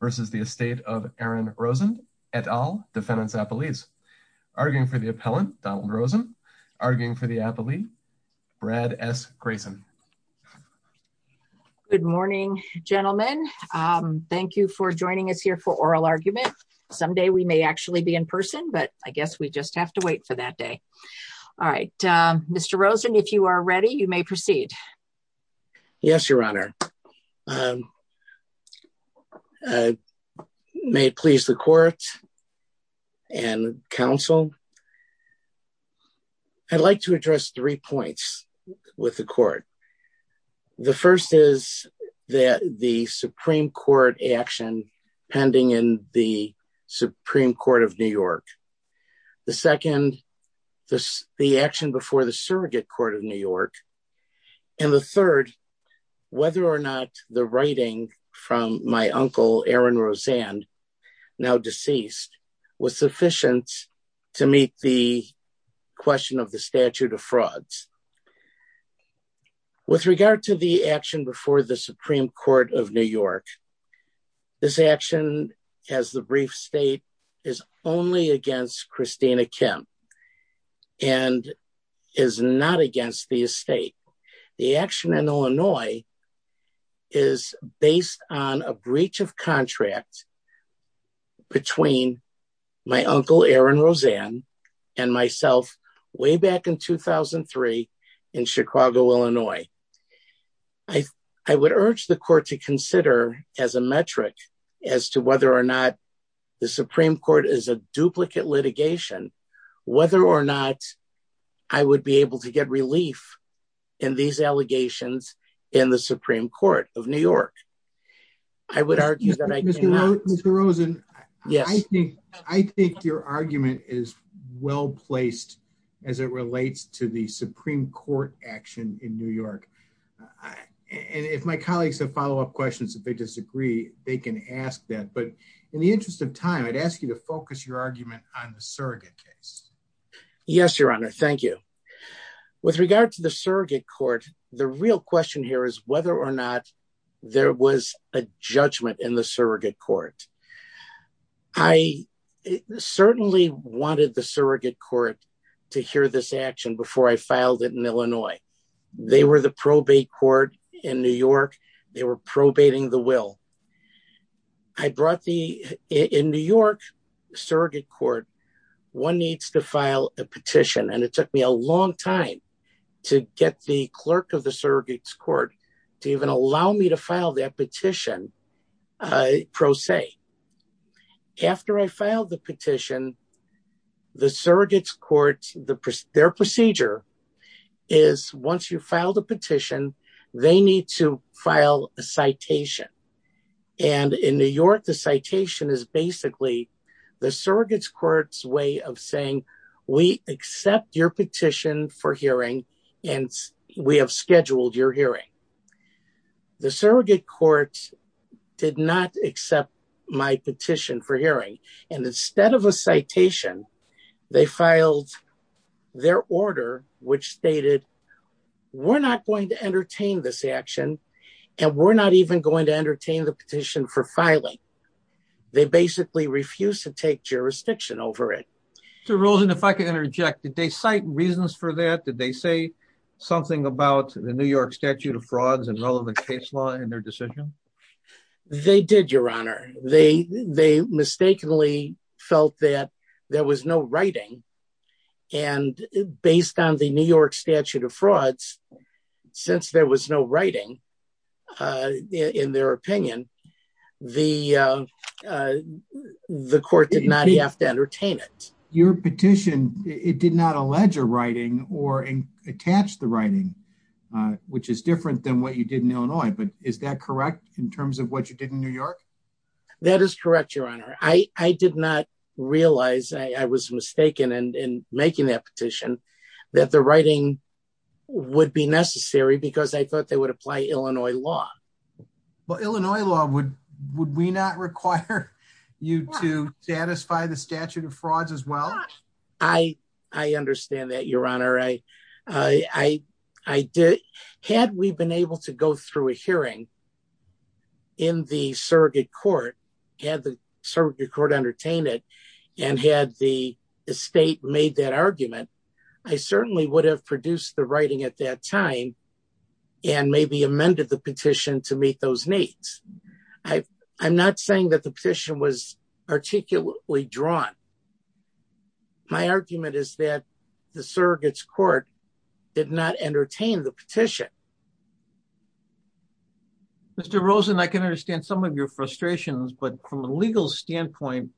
versus the estate of Aaron Rosen at all defendants. Appellees arguing for the appellant, Donald Rosen, arguing for the appellee, Brad S. Grayson. Good morning. Gentlemen, thank you for joining us here for oral argument. Someday we may actually be in person but I guess we just have to wait for that day. All right, Mr Rosen if you are ready you may proceed. Yes, Your Honor. May please the court and counsel. I'd like to address three points with the court. The first is that the Supreme Court action pending in the Supreme Court of New York. The second, the action before the surrogate court of New York. And the third, whether or not the writing from my uncle Aaron Rosen now deceased was sufficient to meet the question of the statute of frauds. With regard to the action before the Supreme Court of New York. This action has the brief state is only against Christina Kim and is not against the estate. The action in Illinois is based on a breach of contract between my uncle Aaron Rosen and myself, way back in 2003 in Chicago, Illinois. I, I would urge the court to consider as a metric as to whether or not the Supreme Court is a duplicate litigation, whether or not I would be able to get relief in these allegations in the Supreme Court of New York. I would argue that I was the Rosen. Yes, I think your argument is well placed as it relates to the Supreme Court action in New York. And if my colleagues have follow up questions if they disagree, they can ask that but in the interest of time I'd ask you to focus your argument on the surrogate case. Yes, Your Honor. Thank you. With regard to the surrogate court. The real question here is whether or not there was a judgment in the surrogate court. I certainly wanted the surrogate court to hear this action before I filed it in Illinois. They were the probate court in New York, they were probating the will. I brought the in New York surrogate court. One needs to file a petition and it took me a long time to get the clerk of the surrogates court to even allow me to file that petition. Pro se. After I filed the petition, the surrogates court, their procedure is once you filed a petition, they need to file a citation. And in New York, the citation is basically the surrogates courts way of saying we accept your petition for hearing and we have scheduled your hearing. The surrogate courts did not accept my petition for hearing. And instead of a citation, they filed their order, which stated, we're not going to entertain this action. And we're not even going to entertain the petition for filing. They basically refuse to take jurisdiction over it. Mr. Rosen, if I can interject, did they cite reasons for that? Did they say something about the New York statute of frauds and relevant case law in their decision? They did, Your Honor. They, they mistakenly felt that there was no writing. And based on the New York statute of frauds, since there was no writing in their opinion, the the court did not have to entertain it. Your petition, it did not allege a writing or attach the writing, which is different than what you did in Illinois. But is that correct in terms of what you did in New York? That is correct, Your Honor. I did not realize I was mistaken in making that petition that the writing would be necessary because I thought they would apply Illinois law. Well, Illinois law would would we not require you to satisfy the statute of frauds as well? I, I understand that, Your Honor. I, I, I did. Had we been able to go through a hearing. In the surrogate court, had the surrogate court entertain it and had the state made that argument, I certainly would have produced the writing at that time. And maybe amended the petition to meet those needs. I, I'm not saying that the petition was articulately drawn. My argument is that the surrogates court did not entertain the petition. Mr. Rosen, I can understand some of your frustrations, but from a legal standpoint,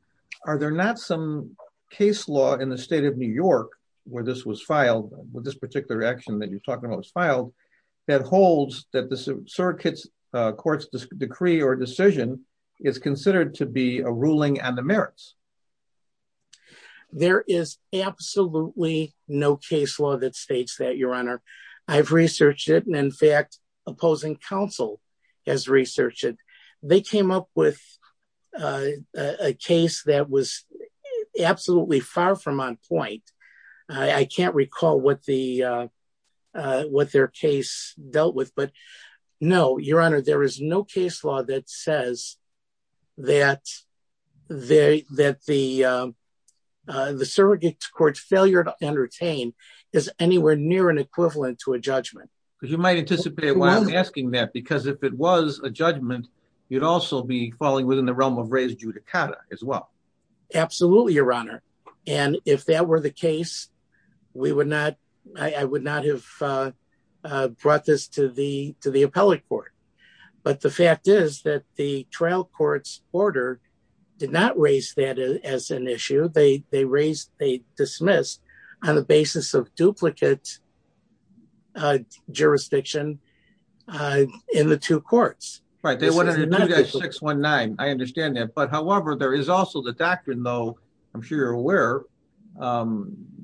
are there not some case law in the state of New York where this was filed with this particular action that you're talking about was filed that holds that the surrogates courts decree or decision is considered to be a ruling on the merits? There is absolutely no case law that states that, Your Honor. I've researched it. And in fact, opposing counsel has researched it. They came up with a case that was absolutely far from on point. I can't recall what the, what their case dealt with, but no, Your Honor, there is no case law that says that they, that the, the surrogates court's failure to entertain is anywhere near an equivalent to a judgment. You might anticipate why I'm asking that because if it was a judgment, you'd also be falling within the realm of raised judicata as well. Absolutely, Your Honor. And if that were the case, we would not, I would not have brought this to the, to the appellate court. But the fact is that the trial court's order did not raise that as an issue. They, they raised, they dismissed on the basis of duplicate jurisdiction in the two courts. Right. They wouldn't have 619. I understand that. But however, there is also the doctrine, though, I'm sure you're aware,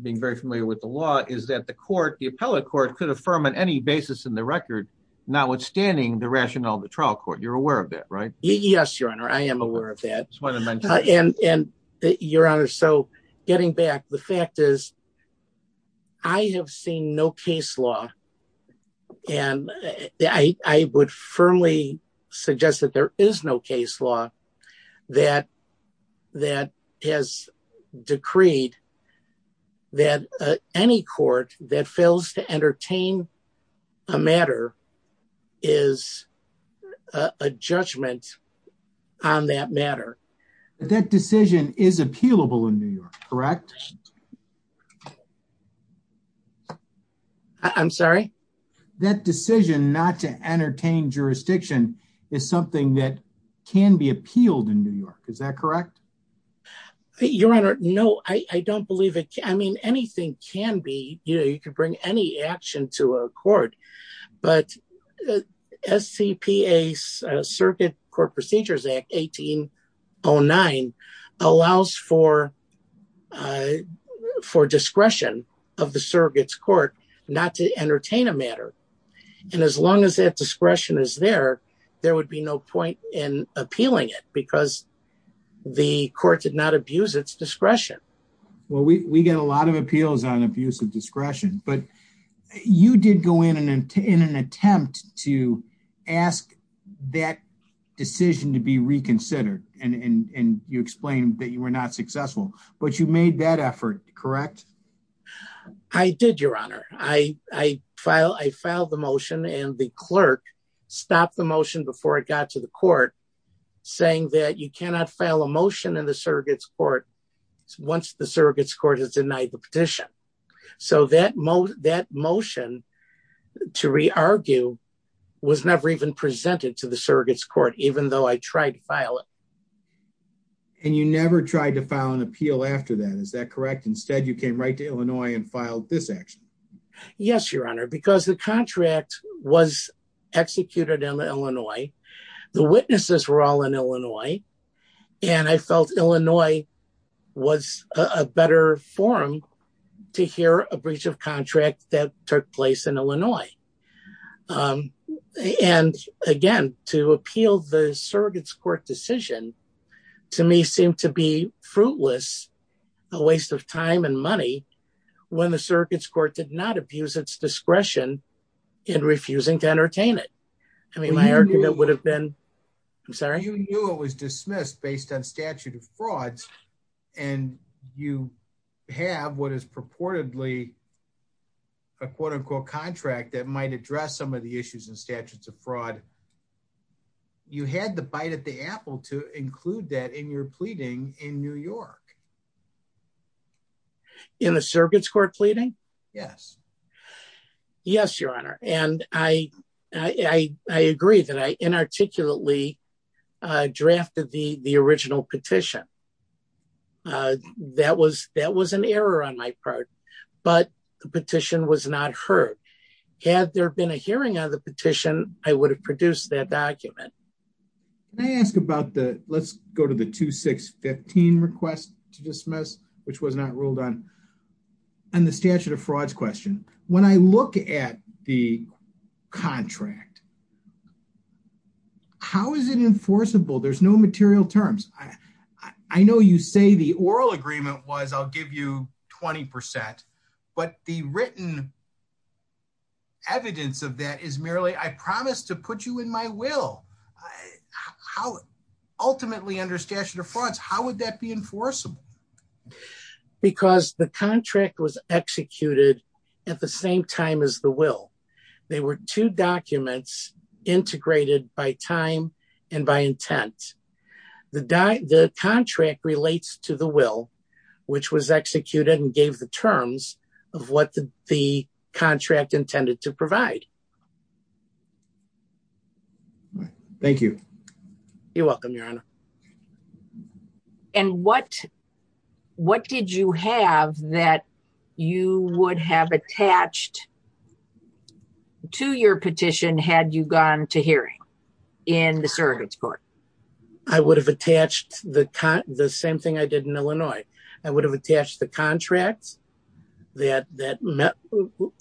being very familiar with the law, is that the court, the appellate court could affirm on any basis in the record, notwithstanding the rationale of the trial court. You're aware of that, right? Yes, Your Honor, I am aware of that. And Your Honor, so getting back, the fact is, I have seen no case law. And I would firmly suggest that there is no case law that, that has decreed that any court that fails to entertain a matter is a judgment. On that matter, that decision is appealable in New York, correct? I'm sorry. That decision not to entertain jurisdiction is something that can be appealed in New York. Is that correct? Your Honor, no, I don't believe it. I mean, anything can be, you know, you can bring any action to a court. But the SCPA Circuit Court Procedures Act 1809 allows for, for discretion of the surrogate's court not to entertain a matter. And as long as that discretion is there, there would be no point in appealing it because the court did not abuse its discretion. Well, we get a lot of appeals on abuse of discretion, but you did go in and in an attempt to ask that decision to be reconsidered. And you explained that you were not successful, but you made that effort, correct? I did, Your Honor. I filed the motion and the clerk stopped the motion before it got to the court, saying that you cannot file a motion in the surrogate's court once the surrogate's court has denied the petition. So that motion to re-argue was never even presented to the surrogate's court, even though I tried to file it. And you never tried to file an appeal after that, is that correct? Instead, you came right to Illinois and filed this action. Yes, Your Honor, because the contract was executed in Illinois, the witnesses were all in Illinois, and I felt Illinois was a better forum to hear a breach of contract that took place in Illinois. And again, to appeal the surrogate's court decision to me seemed to be fruitless, a waste of time and money when the surrogate's court did not abuse its discretion in refusing to entertain it. You knew it was dismissed based on statute of frauds, and you have what is purportedly a quote-unquote contract that might address some of the issues and statutes of fraud. You had the bite at the apple to include that in your pleading in New York. In the surrogate's court pleading? Yes. Yes, Your Honor, and I agree that I inarticulately drafted the original petition. That was an error on my part, but the petition was not heard. Had there been a hearing on the petition, I would have produced that document. Can I ask about the, let's go to the 2615 request to dismiss, which was not ruled on, on the statute of frauds question. When I look at the contract, how is it enforceable? There's no material terms. I know you say the oral agreement was, I'll give you 20%, but the written evidence of that is merely, I promise to put you in my will. How, ultimately under statute of frauds, how would that be enforceable? Because the contract was executed at the same time as the will. They were two documents integrated by time and by intent. The contract relates to the will, which was executed and gave the terms of what the contract intended to provide. Thank you. And what, what did you have that you would have attached to your petition had you gone to hearing in the surrogate's court? I would have attached the same thing I did in Illinois. I would have attached the contract, that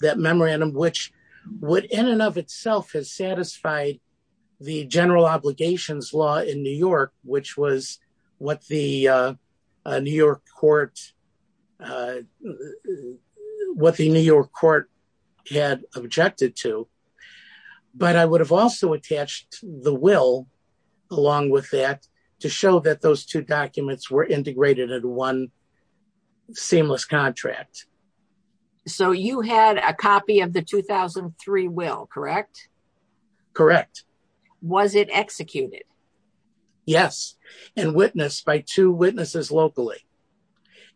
memorandum, which would in and of itself has satisfied the general obligations law in New York, which was what the New York court, what the New York court had objected to. But I would have also attached the will along with that to show that those two documents were integrated at one seamless contract. So you had a copy of the 2003 will, correct? Correct. Was it executed? Yes, and witnessed by two witnesses locally.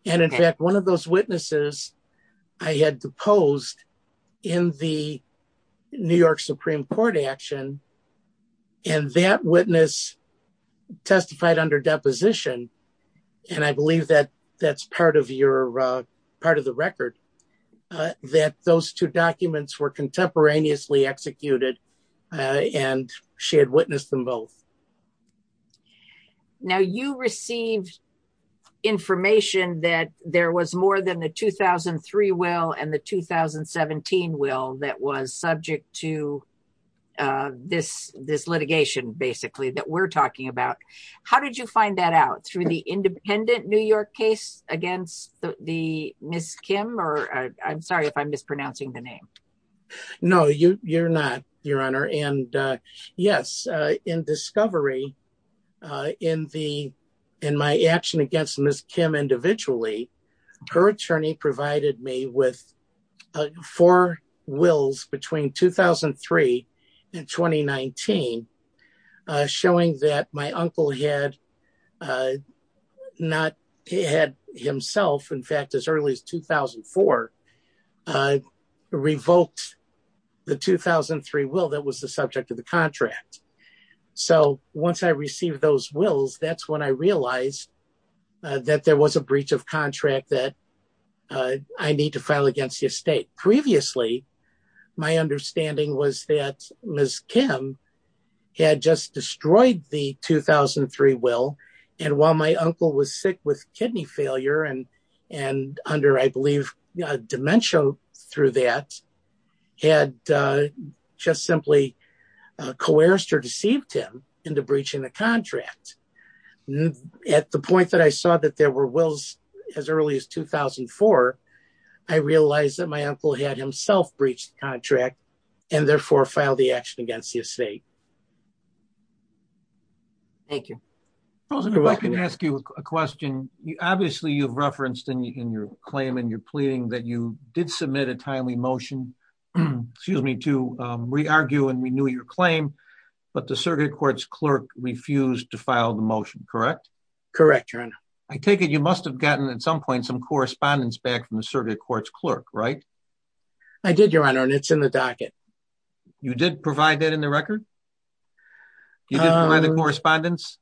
And in fact, one of those witnesses, I had deposed in the New York Supreme Court action. And that witness testified under deposition. And I believe that that's part of your part of the record, that those two documents were contemporaneously executed and she had witnessed them both. Now you received information that there was more than the 2003 will and the 2017 will that was subject to this, this litigation basically that we're talking about. How did you find that out through the independent New York case against the Miss Kim or I'm sorry if I'm mispronouncing the name. No, you're not, Your Honor. And yes, in discovery in the, in my action against Miss Kim individually, her attorney provided me with four wills between 2003 and 2019, showing that my uncle had not had himself in fact as early as 2004 revoked the 2003 will that was the subject of the contract. So once I received those wills, that's when I realized that there was a breach of contract that I need to file against the estate. My understanding was that Miss Kim had just destroyed the 2003 will, and while my uncle was sick with kidney failure and, and under I believe dementia through that had just simply coerced or deceived him into breaching the contract. At the point that I saw that there were wills, as early as 2004, I realized that my uncle had himself breached contract, and therefore file the action against the estate. Thank you. I can ask you a question, you obviously you've referenced in your claim and you're pleading that you did submit a timely motion. Excuse me to re-argue and renew your claim, but the circuit courts clerk refused to file the motion, correct? Correct, Your Honor. I take it you must have gotten at some point some correspondence back from the circuit courts clerk, right? I did, Your Honor, and it's in the docket. You did provide that in the record? You did provide the correspondence?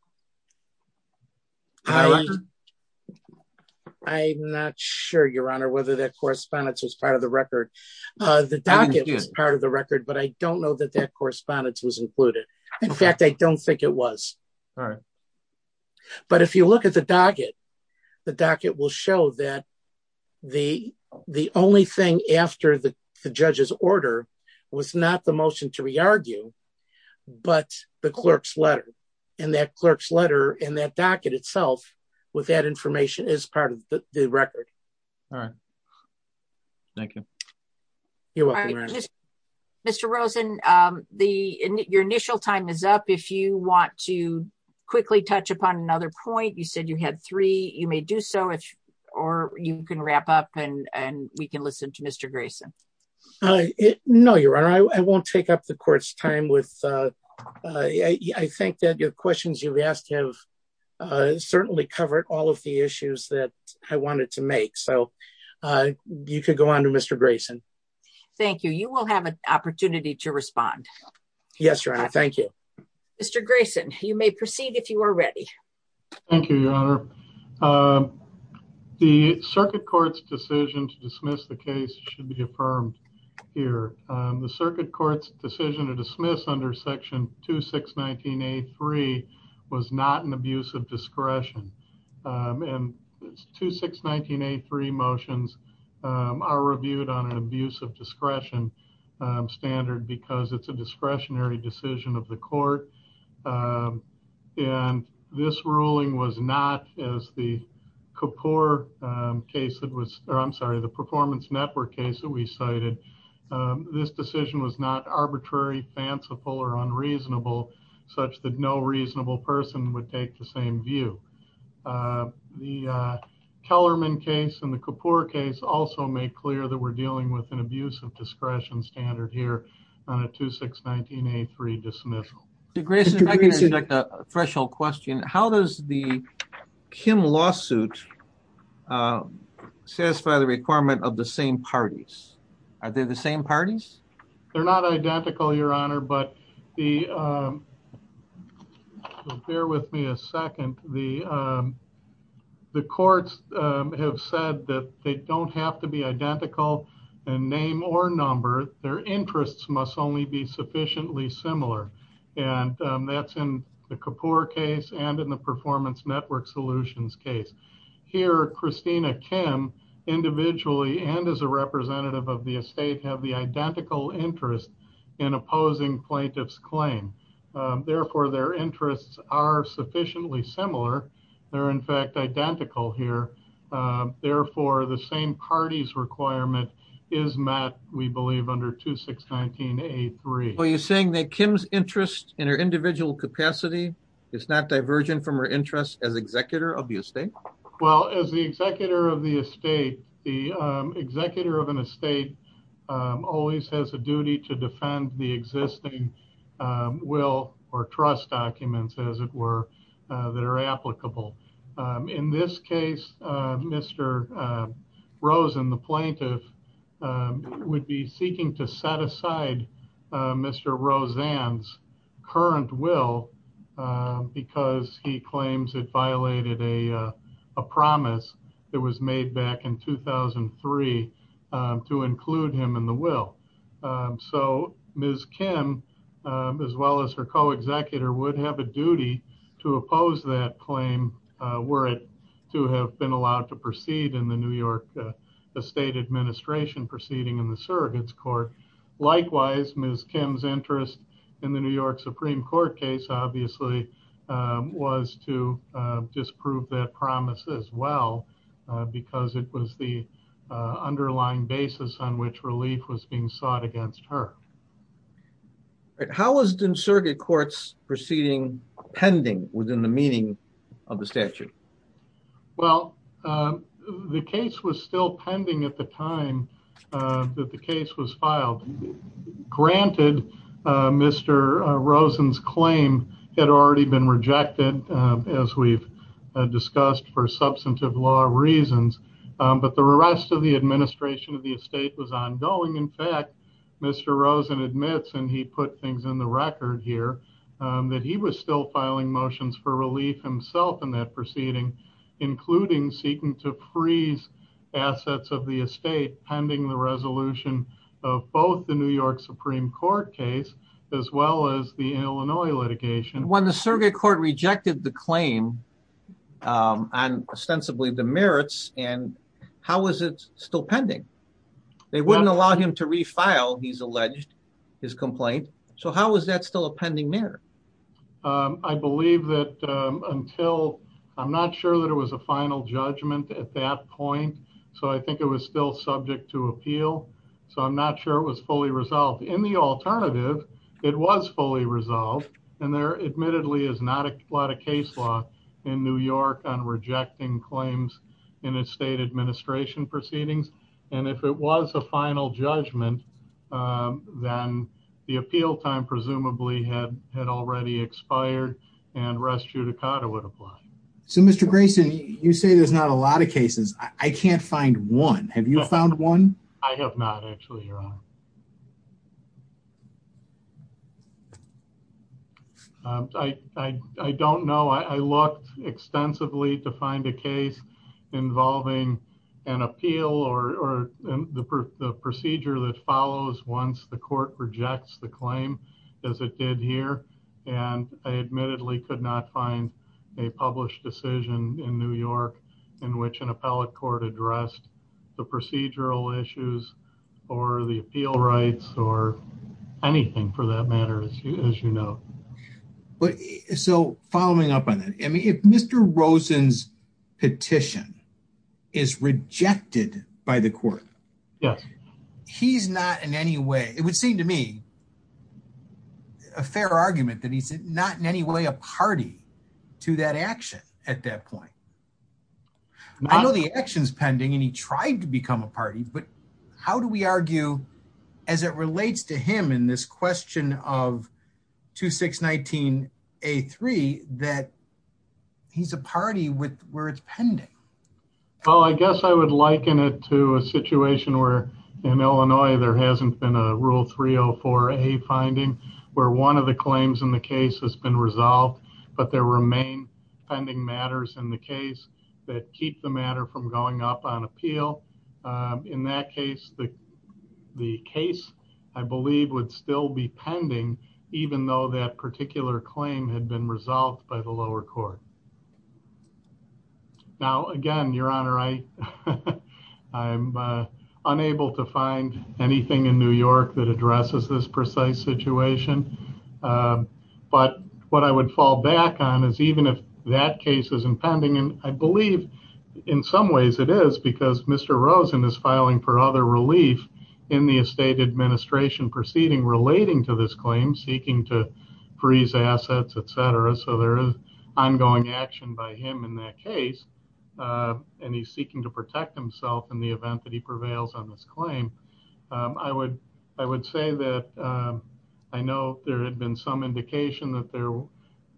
I'm not sure, Your Honor, whether that correspondence was part of the record. The docket was part of the record, but I don't know that that correspondence was included. In fact, I don't think it was. All right. But if you look at the docket, the docket will show that the only thing after the judge's order was not the motion to re-argue, but the clerk's letter. And that clerk's letter and that docket itself with that information is part of the record. All right. Thank you. You're welcome, Your Honor. Mr. Rosen, your initial time is up. If you want to quickly touch upon another point, you said you had three, you may do so, or you can wrap up and we can listen to Mr. Grayson. No, Your Honor, I won't take up the court's time. I think that the questions you've asked have certainly covered all of the issues that I wanted to make, so you could go on to Mr. Grayson. Thank you. You will have an opportunity to respond. Yes, Your Honor. Thank you. Mr. Grayson, you may proceed if you are ready. Thank you, Your Honor. The circuit court's decision to dismiss the case should be affirmed here. The circuit court's decision to dismiss under section 2619A3 was not an abuse of discretion. And 2619A3 motions are reviewed on an abuse of discretion standard because it's a discretionary decision of the court. And this ruling was not, as the performance network case that we cited, this decision was not arbitrary, fanciful, or unreasonable, such that no reasonable person would take the same view. The Kellerman case and the Kapoor case also make clear that we're dealing with an abuse of discretion standard here on a 2619A3 dismissal. Mr. Grayson, I can ask a threshold question. How does the Kim lawsuit satisfy the requirement of the same parties? Are they the same parties? They're not identical, Your Honor, but the, bear with me a second. The courts have said that they don't have to be identical in name or number. Their interests must only be sufficiently similar. And that's in the Kapoor case and in the performance network solutions case. Here, Christina Kim, individually and as a representative of the estate, have the identical interest in opposing plaintiff's claim. Therefore, their interests are sufficiently similar. They're in fact identical here. Therefore, the same parties requirement is met, we believe, under 2619A3. Are you saying that Kim's interest in her individual capacity is not divergent from her interest as executor of the estate? Well, as the executor of the estate, the executor of an estate always has a duty to defend the existing will or trust documents, as it were, that are applicable. In this case, Mr. Rosen, the plaintiff, would be seeking to set aside Mr. Rosen's current will because he claims it violated a promise that was made back in 2003 to include him in the will. So Ms. Kim, as well as her co-executor, would have a duty to oppose that claim were it to have been allowed to proceed in the New York estate administration proceeding in the surrogates court. Likewise, Ms. Kim's interest in the New York Supreme Court case, obviously, was to disprove that promise as well, because it was the underlying basis on which relief was being sought against her. How was the surrogate courts proceeding pending within the meaning of the statute? Well, the case was still pending at the time that the case was filed. Granted, Mr. Rosen's claim had already been rejected, as we've discussed, for substantive law reasons, but the rest of the administration of the estate was ongoing. In fact, Mr. Rosen admits, and he put things in the record here, that he was still filing motions for relief himself in that proceeding, including seeking to freeze assets of the estate pending the resolution of both the New York Supreme Court case, as well as the Illinois litigation. When the surrogate court rejected the claim on ostensibly the merits, how was it still pending? They wouldn't allow him to refile, he's alleged, his complaint. So how was that still a pending merit? I believe that until, I'm not sure that it was a final judgment at that point, so I think it was still subject to appeal. So I'm not sure it was fully resolved. In the alternative, it was fully resolved, and there admittedly is not a lot of case law in New York on rejecting claims in estate administration proceedings. And if it was a final judgment, then the appeal time presumably had already expired, and res judicata would apply. So, Mr. Grayson, you say there's not a lot of cases. I can't find one. Have you found one? I have not actually, Your Honor. I don't know. I looked extensively to find a case involving an appeal or the procedure that follows once the court rejects the claim, as it did here. And I admittedly could not find a published decision in New York in which an appellate court addressed the procedural issues or the appeal rights or anything for that matter, as you know. So, following up on that, I mean, if Mr. Rosen's petition is rejected by the court, he's not in any way, it would seem to me, a fair argument that he's not in any way a party to that action at that point. I know the action's pending, and he tried to become a party, but how do we argue, as it relates to him in this question of 2619A3, that he's a party where it's pending? Well, I guess I would liken it to a situation where, in Illinois, there hasn't been a Rule 304A finding where one of the claims in the case has been resolved, but there remain pending matters in the case that keep the matter from going up on appeal. In that case, the case, I believe, would still be pending, even though that particular claim had been resolved by the lower court. Now, again, Your Honor, I'm unable to find anything in New York that addresses this precise situation. But what I would fall back on is, even if that case is impending, and I believe in some ways it is, because Mr. Rosen is filing for other relief in the estate administration proceeding relating to this claim, seeking to freeze assets, etc. So, there is ongoing action by him in that case, and he's seeking to protect himself in the event that he prevails on this claim. I would say that I know there had been some indication that there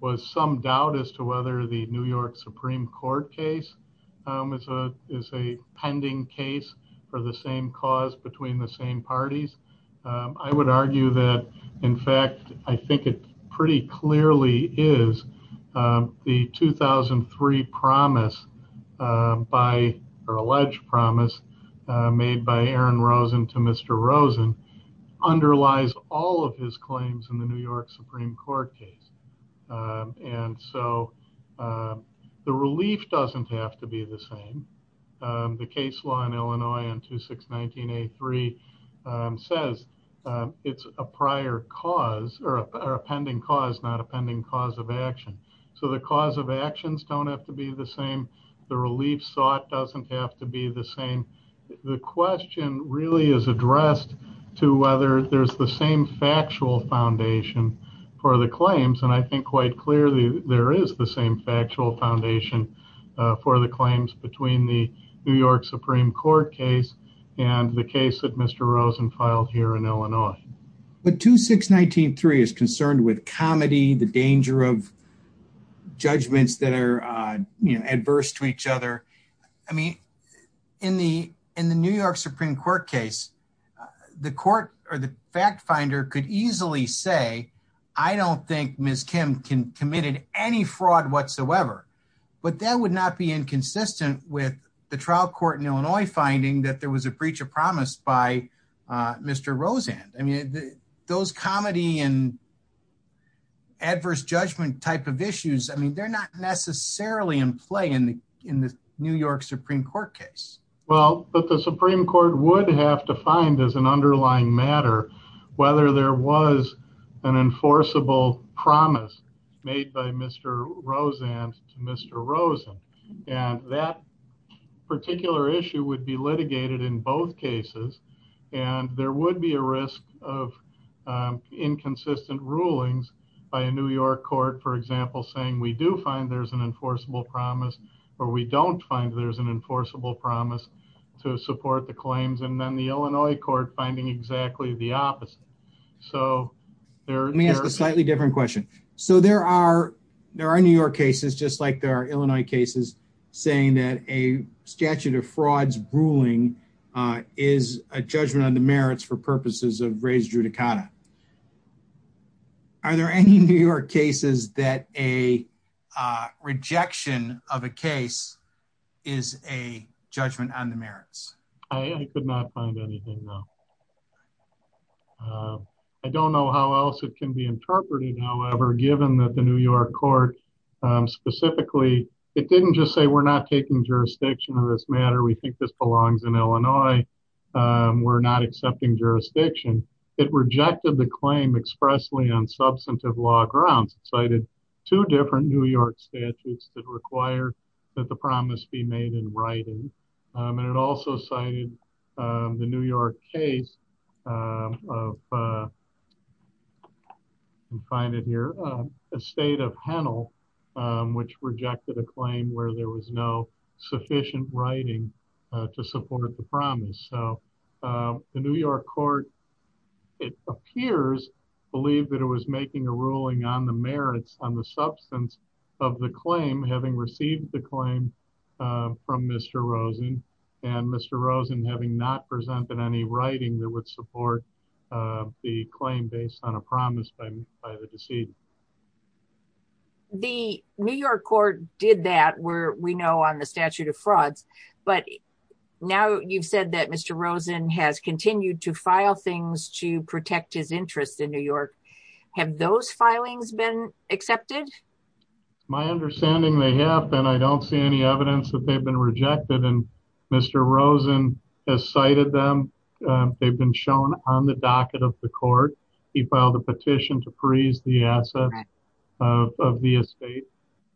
was some doubt as to whether the New York Supreme Court case is a pending case for the same cause between the same parties. I would argue that, in fact, I think it pretty clearly is. The 2003 promise, or alleged promise, made by Aaron Rosen to Mr. Rosen, underlies all of his claims in the New York Supreme Court case. And so, the relief doesn't have to be the same. The case law in Illinois on 2619A3 says it's a prior cause, or a pending cause, not a pending cause of action. So, the cause of actions don't have to be the same. The relief sought doesn't have to be the same. The question really is addressed to whether there's the same factual foundation for the claims, and I think quite clearly there is the same factual foundation for the claims between the New York Supreme Court case and the case that Mr. Rosen filed here in Illinois. But 2619A3 is concerned with comedy, the danger of judgments that are adverse to each other. I mean, in the New York Supreme Court case, the court or the fact finder could easily say, I don't think Ms. Kim committed any fraud whatsoever. But that would not be inconsistent with the trial court in Illinois finding that there was a breach of promise by Mr. Rosen. I mean, those comedy and adverse judgment type of issues, I mean, they're not necessarily in play in the New York Supreme Court case. Well, but the Supreme Court would have to find, as an underlying matter, whether there was an enforceable promise made by Mr. Rosen to Mr. Rosen. And that particular issue would be litigated in both cases, and there would be a risk of inconsistent rulings by a New York court, for example, saying we do find there's an enforceable promise, or we don't find there's an enforceable promise to support the claims, and then the Illinois court finding exactly the opposite. Let me ask a slightly different question. So there are New York cases, just like there are Illinois cases, saying that a statute of frauds ruling is a judgment on the merits for purposes of res judicata. Are there any New York cases that a rejection of a case is a judgment on the merits? I could not find anything. I don't know how else it can be interpreted. However, given that the New York court, specifically, it didn't just say we're not taking jurisdiction on this matter, we think this belongs in Illinois. We're not accepting jurisdiction. It rejected the claim expressly on substantive law grounds, cited two different New York statutes that require that the promise be made in writing. And it also cited the New York case of a state of Hennel, which rejected a claim where there was no sufficient writing to support the promise. So the New York court, it appears, believed that it was making a ruling on the merits on the substance of the claim, having received the claim from Mr. Rosen, and Mr. Rosen having not presented any writing that would support the claim based on a promise by the decedent. The New York court did that, where we know on the statute of frauds, but now you've said that Mr. Rosen has continued to file things to protect his interest in New York. Have those filings been accepted? My understanding they have, and I don't see any evidence that they've been rejected. And Mr. Rosen has cited them. They've been shown on the docket of the court. He filed a petition to freeze the asset of the estate.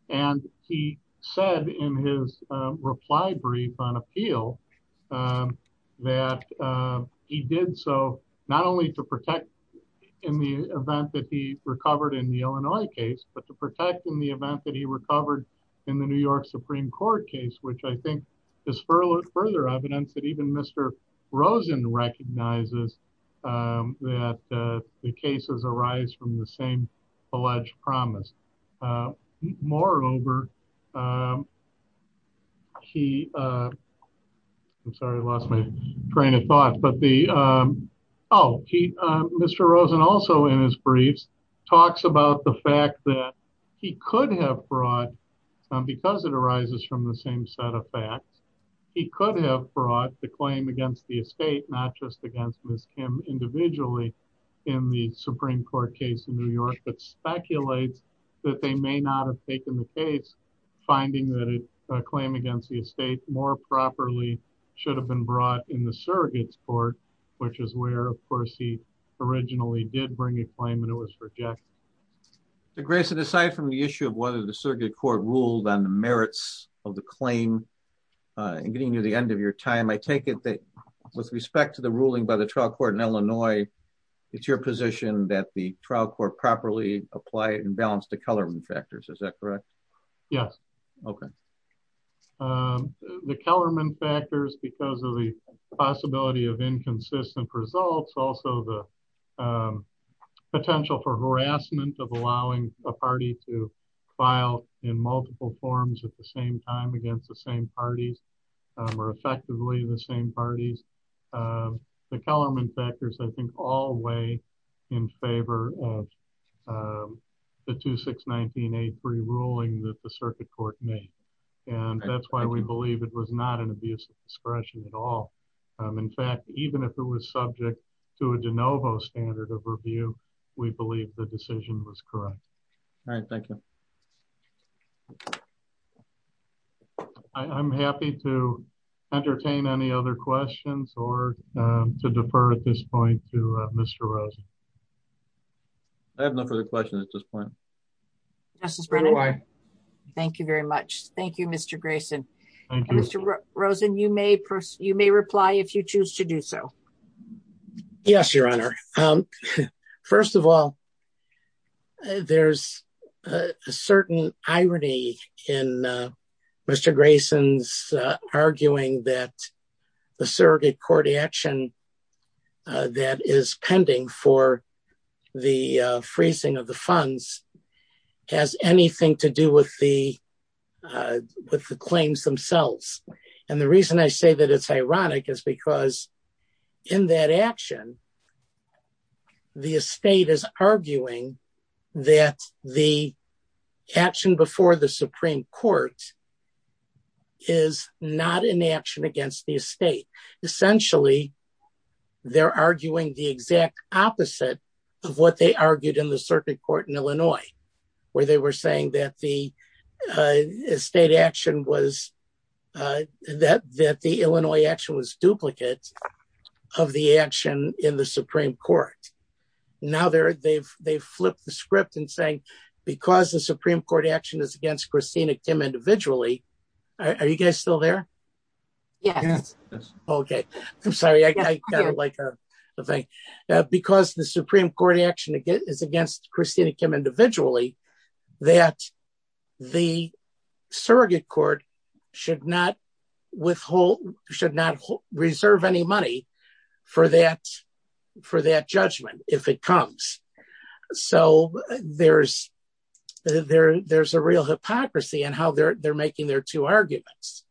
And he said in his reply brief on appeal that he did so not only to protect in the event that he recovered in the Illinois case, but to protect in the event that he recovered in the New York Supreme Court case, which I think is further evidence that even Mr. Rosen recognizes that the cases arise from the same alleged promise. Moreover, Mr. Rosen also in his briefs talks about the fact that he could have brought, because it arises from the same set of facts, he could have brought the claim against the estate, not just against Miss Kim individually in the Supreme Court case in New York, but speculates that they may not have taken the case, finding that a claim against the estate more properly should have been brought in the surrogates court, which is where of course he originally did bring a claim and it was rejected. The grace of the side from the issue of whether the surrogate court ruled on the merits of the claim and getting near the end of your time. I take it that with respect to the ruling by the trial court in Illinois, it's your position that the trial court properly apply and balance the color factors. Is that correct? Yes. Okay. The Kellerman factors, because of the possibility of inconsistent results, also the potential for harassment of allowing a party to file in multiple forms at the same time against the same parties or effectively the same parties. The Kellerman factors, I think, all way in favor of the 2619A3 ruling that the circuit court made. And that's why we believe it was not an abuse of discretion at all. In fact, even if it was subject to a de novo standard of review, we believe the decision was correct. All right. Thank you. I'm happy to entertain any other questions or to defer at this point to Mr. I have no further questions at this point. Thank you very much. Thank you, Mr. Grayson. Mr. Rosen you may you may reply if you choose to do so. Yes, Your Honor. First of all, there's a certain irony in Mr. Grayson's arguing that the surrogate court action that is pending for the freezing of the funds has anything to do with the, with the claims themselves. And the reason I say that it's ironic is because in that action. The state is arguing that the action before the Supreme Court is not an action against the state. Essentially, they're arguing the exact opposite of what they argued in the circuit court in Illinois, where they were saying that the state action was that that the Illinois action was duplicate of the action in the Supreme Court. Now they're they've they've flipped the script and saying, because the Supreme Court action is against Christina Kim individually. Are you guys still there. Yes. reserve any money for that, for that judgment, if it comes. So, there's, there's a real hypocrisy and how they're they're making their two arguments.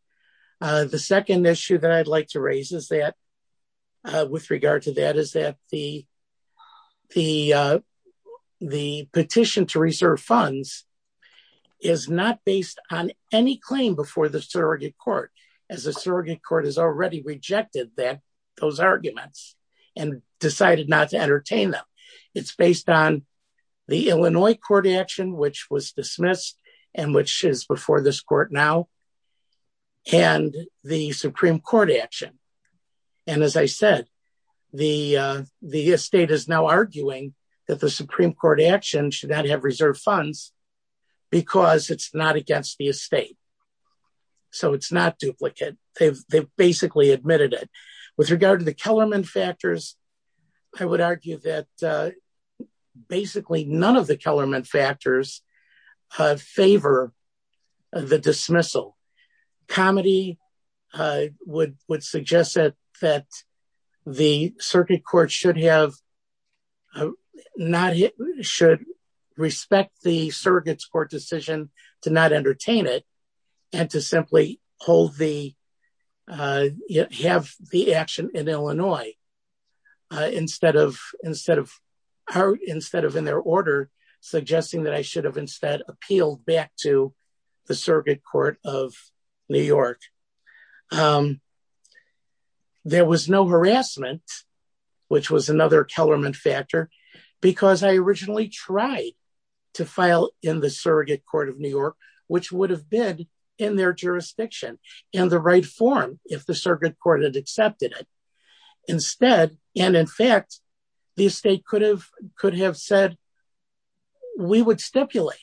The second issue that I'd like to raise is that with regard to that is that the, the, the petition to reserve funds is not based on any claim before the surrogate court as a surrogate court has already rejected that those arguments and decided not to entertain them. It's based on the Illinois court action which was dismissed, and which is before this court now. And the Supreme Court action. And as I said, the, the state is now arguing that the Supreme Court action should not have reserve funds, because it's not against the estate. So it's not duplicate, they've basically admitted it. With regard to the Kellerman factors. I would argue that basically none of the Kellerman factors favor the dismissal comedy would would suggest that that the circuit court should have not should respect the surrogates court decision to not entertain it, and to simply hold the have the action in their hands. Instead of, instead of her instead of in their order, suggesting that I should have instead appealed back to the circuit court of New York. There was no harassment, which was another Kellerman factor, because I originally tried to file in the surrogate court of New York, which would have been in their jurisdiction, and the right form, if the circuit court and accepted it. Instead, and in fact, the state could have could have said, we would stipulate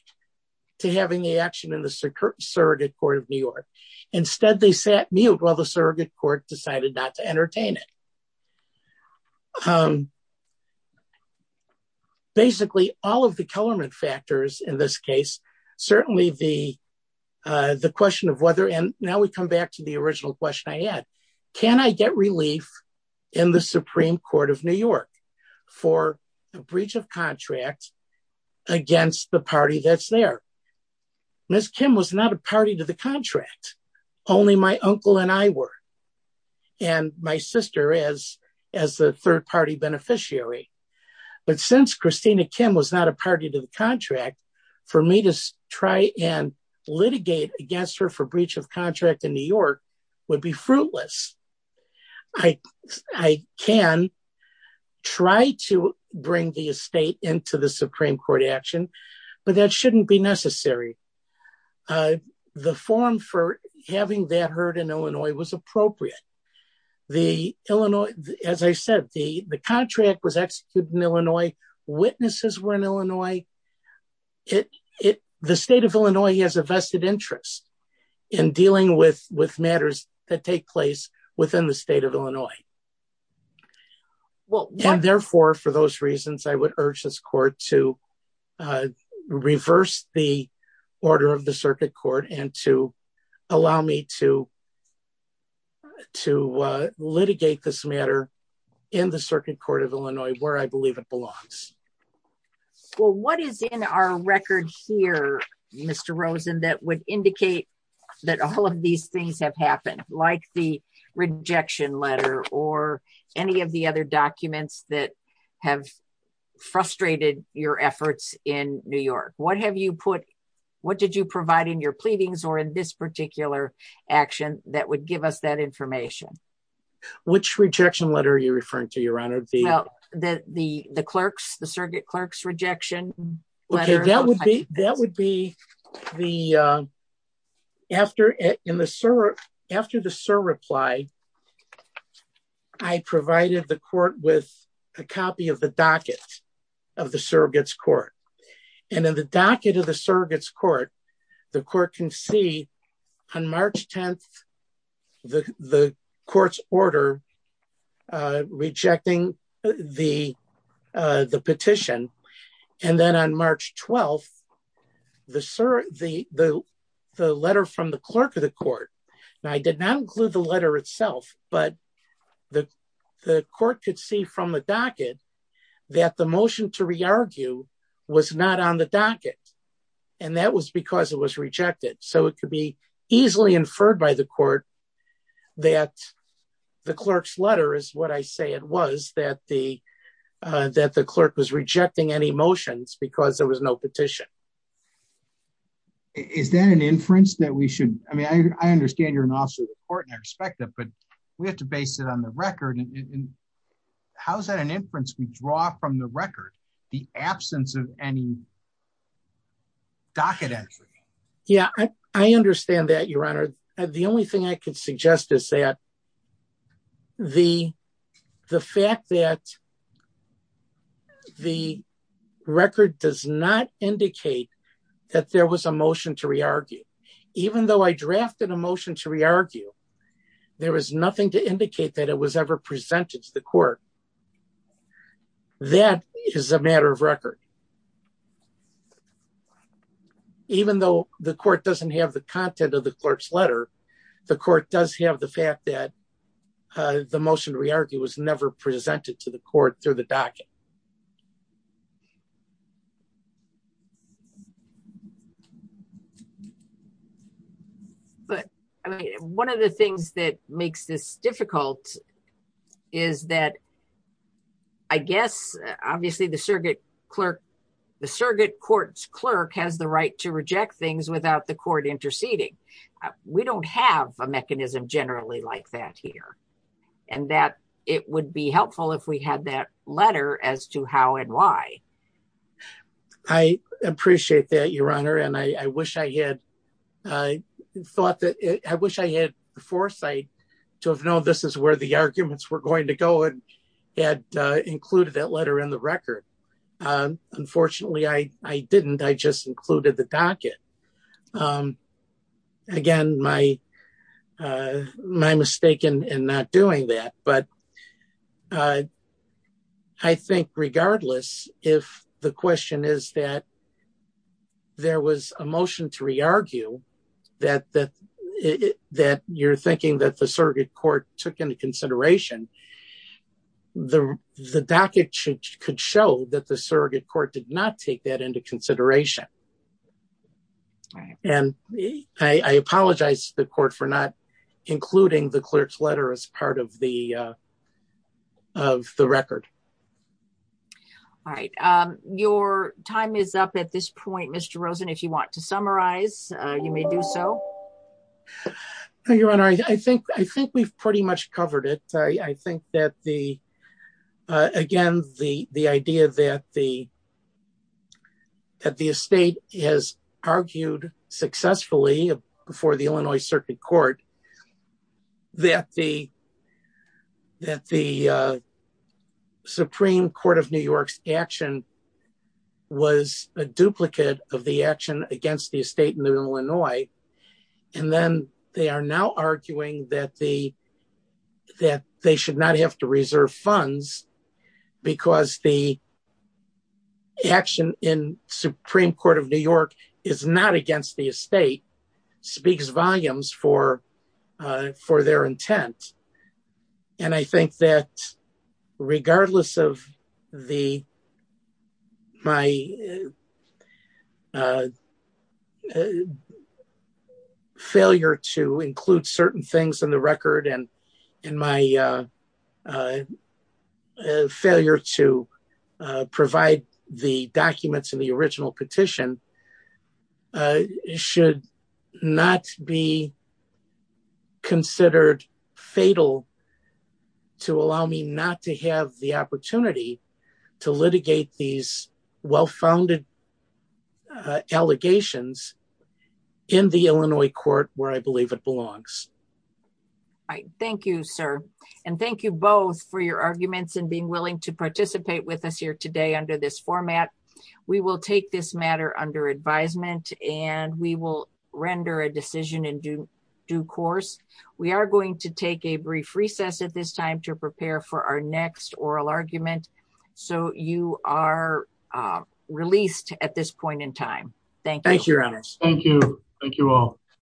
to having the action in the circuit surrogate court of New York. Instead they sat mute while the surrogate court decided not to entertain it. Basically, all of the Kellerman factors in this case, certainly the, the question of whether and now we come back to the original question I had, can I get relief in the Supreme Court of New York for a breach of contract against the party that's there. Miss Kim was not a party to the contract. Only my uncle and I were, and my sister is as a third party beneficiary. But since Christina Kim was not a party to the contract for me to try and litigate against her for breach of contract in New York would be fruitless. I can try to bring the estate into the Supreme Court action, but that shouldn't be necessary. The form for having that heard in Illinois was appropriate. The Illinois, as I said, the, the contract was executed in Illinois witnesses were in Illinois. It, it, the state of Illinois has a vested interest in dealing with with matters that take place within the state of Illinois. Well, therefore, for those reasons I would urge this court to reverse the order of the circuit court and to allow me to, to litigate this matter in the circuit court of Illinois where I believe it belongs. Well, what is in our record here, Mr Rosen that would indicate that all of these things have happened, like the rejection letter or any of the other documents that have frustrated your efforts in New York, what have you put, what did you provide in your pleadings or in this particular action that would give us that information. Which rejection letter you referring to your honor the, the, the, the clerks the circuit clerks rejection. That would be the after it in the server. After the server applied. I provided the court with a copy of the docket of the surrogates court. And then the docket of the surrogates court. The court can see on March 10, the courts order rejecting the, the petition. And then on March 12, the sir, the, the, the letter from the clerk of the court. I did not include the letter itself, but the, the court could see from the docket that the motion to re argue was not on the docket. And that was because it was rejected so it could be easily inferred by the court that the clerk's letter is what I say it was that the, that the clerk was rejecting any motions because there was no petition. Is that an inference that we should, I mean I understand you're an officer of the court and I respect that but we have to base it on the record and how is that an inference we draw from the record, the absence of any docket entry. Yeah, I understand that your honor. The only thing I could suggest is that the, the fact that the record does not indicate that there was a motion to re argue, even though I drafted a motion to re argue. There was nothing to indicate that it was ever presented to the court. That is a matter of record. Even though the court doesn't have the content of the clerk's letter. The court does have the fact that the motion to re argue was never presented to the court through the docket. But, I mean, one of the things that makes this difficult is that I guess, obviously the surrogate clerk, the surrogate courts clerk has the right to reject things without the court interceding. We don't have a mechanism generally like that here. And that it would be helpful if we had that letter as to how and why. I appreciate that your honor and I wish I had thought that I wish I had foresight to have known this is where the arguments were going to go and had included that letter in the record. Unfortunately I didn't I just included the docket. Again, my, my mistake in not doing that, but I think regardless, if the question is that there was a motion to re argue that that that you're thinking that the surrogate court took into consideration. The, the docket should could show that the surrogate court did not take that into consideration. And I apologize to the court for not including the clerk's letter as part of the, of the record. All right. Your time is up at this point Mr Rosen if you want to summarize, you may do so. I think I think we've pretty much covered it. I think that the. Again, the, the idea that the, that the estate has argued successfully before the Illinois Circuit Court, that the, that the Supreme Court of New York's action was a duplicate of the action against the estate in Illinois. And then they are now arguing that the, that they should not have to reserve funds, because the action in Supreme Court of New York is not against the estate speaks volumes for for their intent. And I think that regardless of the, my failure to include certain things in the record and in my failure to provide the documents in the original petition. Should not be considered fatal to allow me not to have the opportunity to litigate these well founded allegations in the Illinois court where I believe it belongs. Thank you, sir. And thank you both for your arguments and being willing to participate with us here today under this format. We will take this matter under advisement, and we will render a decision in due course, we are going to take a brief recess at this time to prepare for our next oral argument. So, you are released at this point in time. Thank you. Thank you. Thank you all.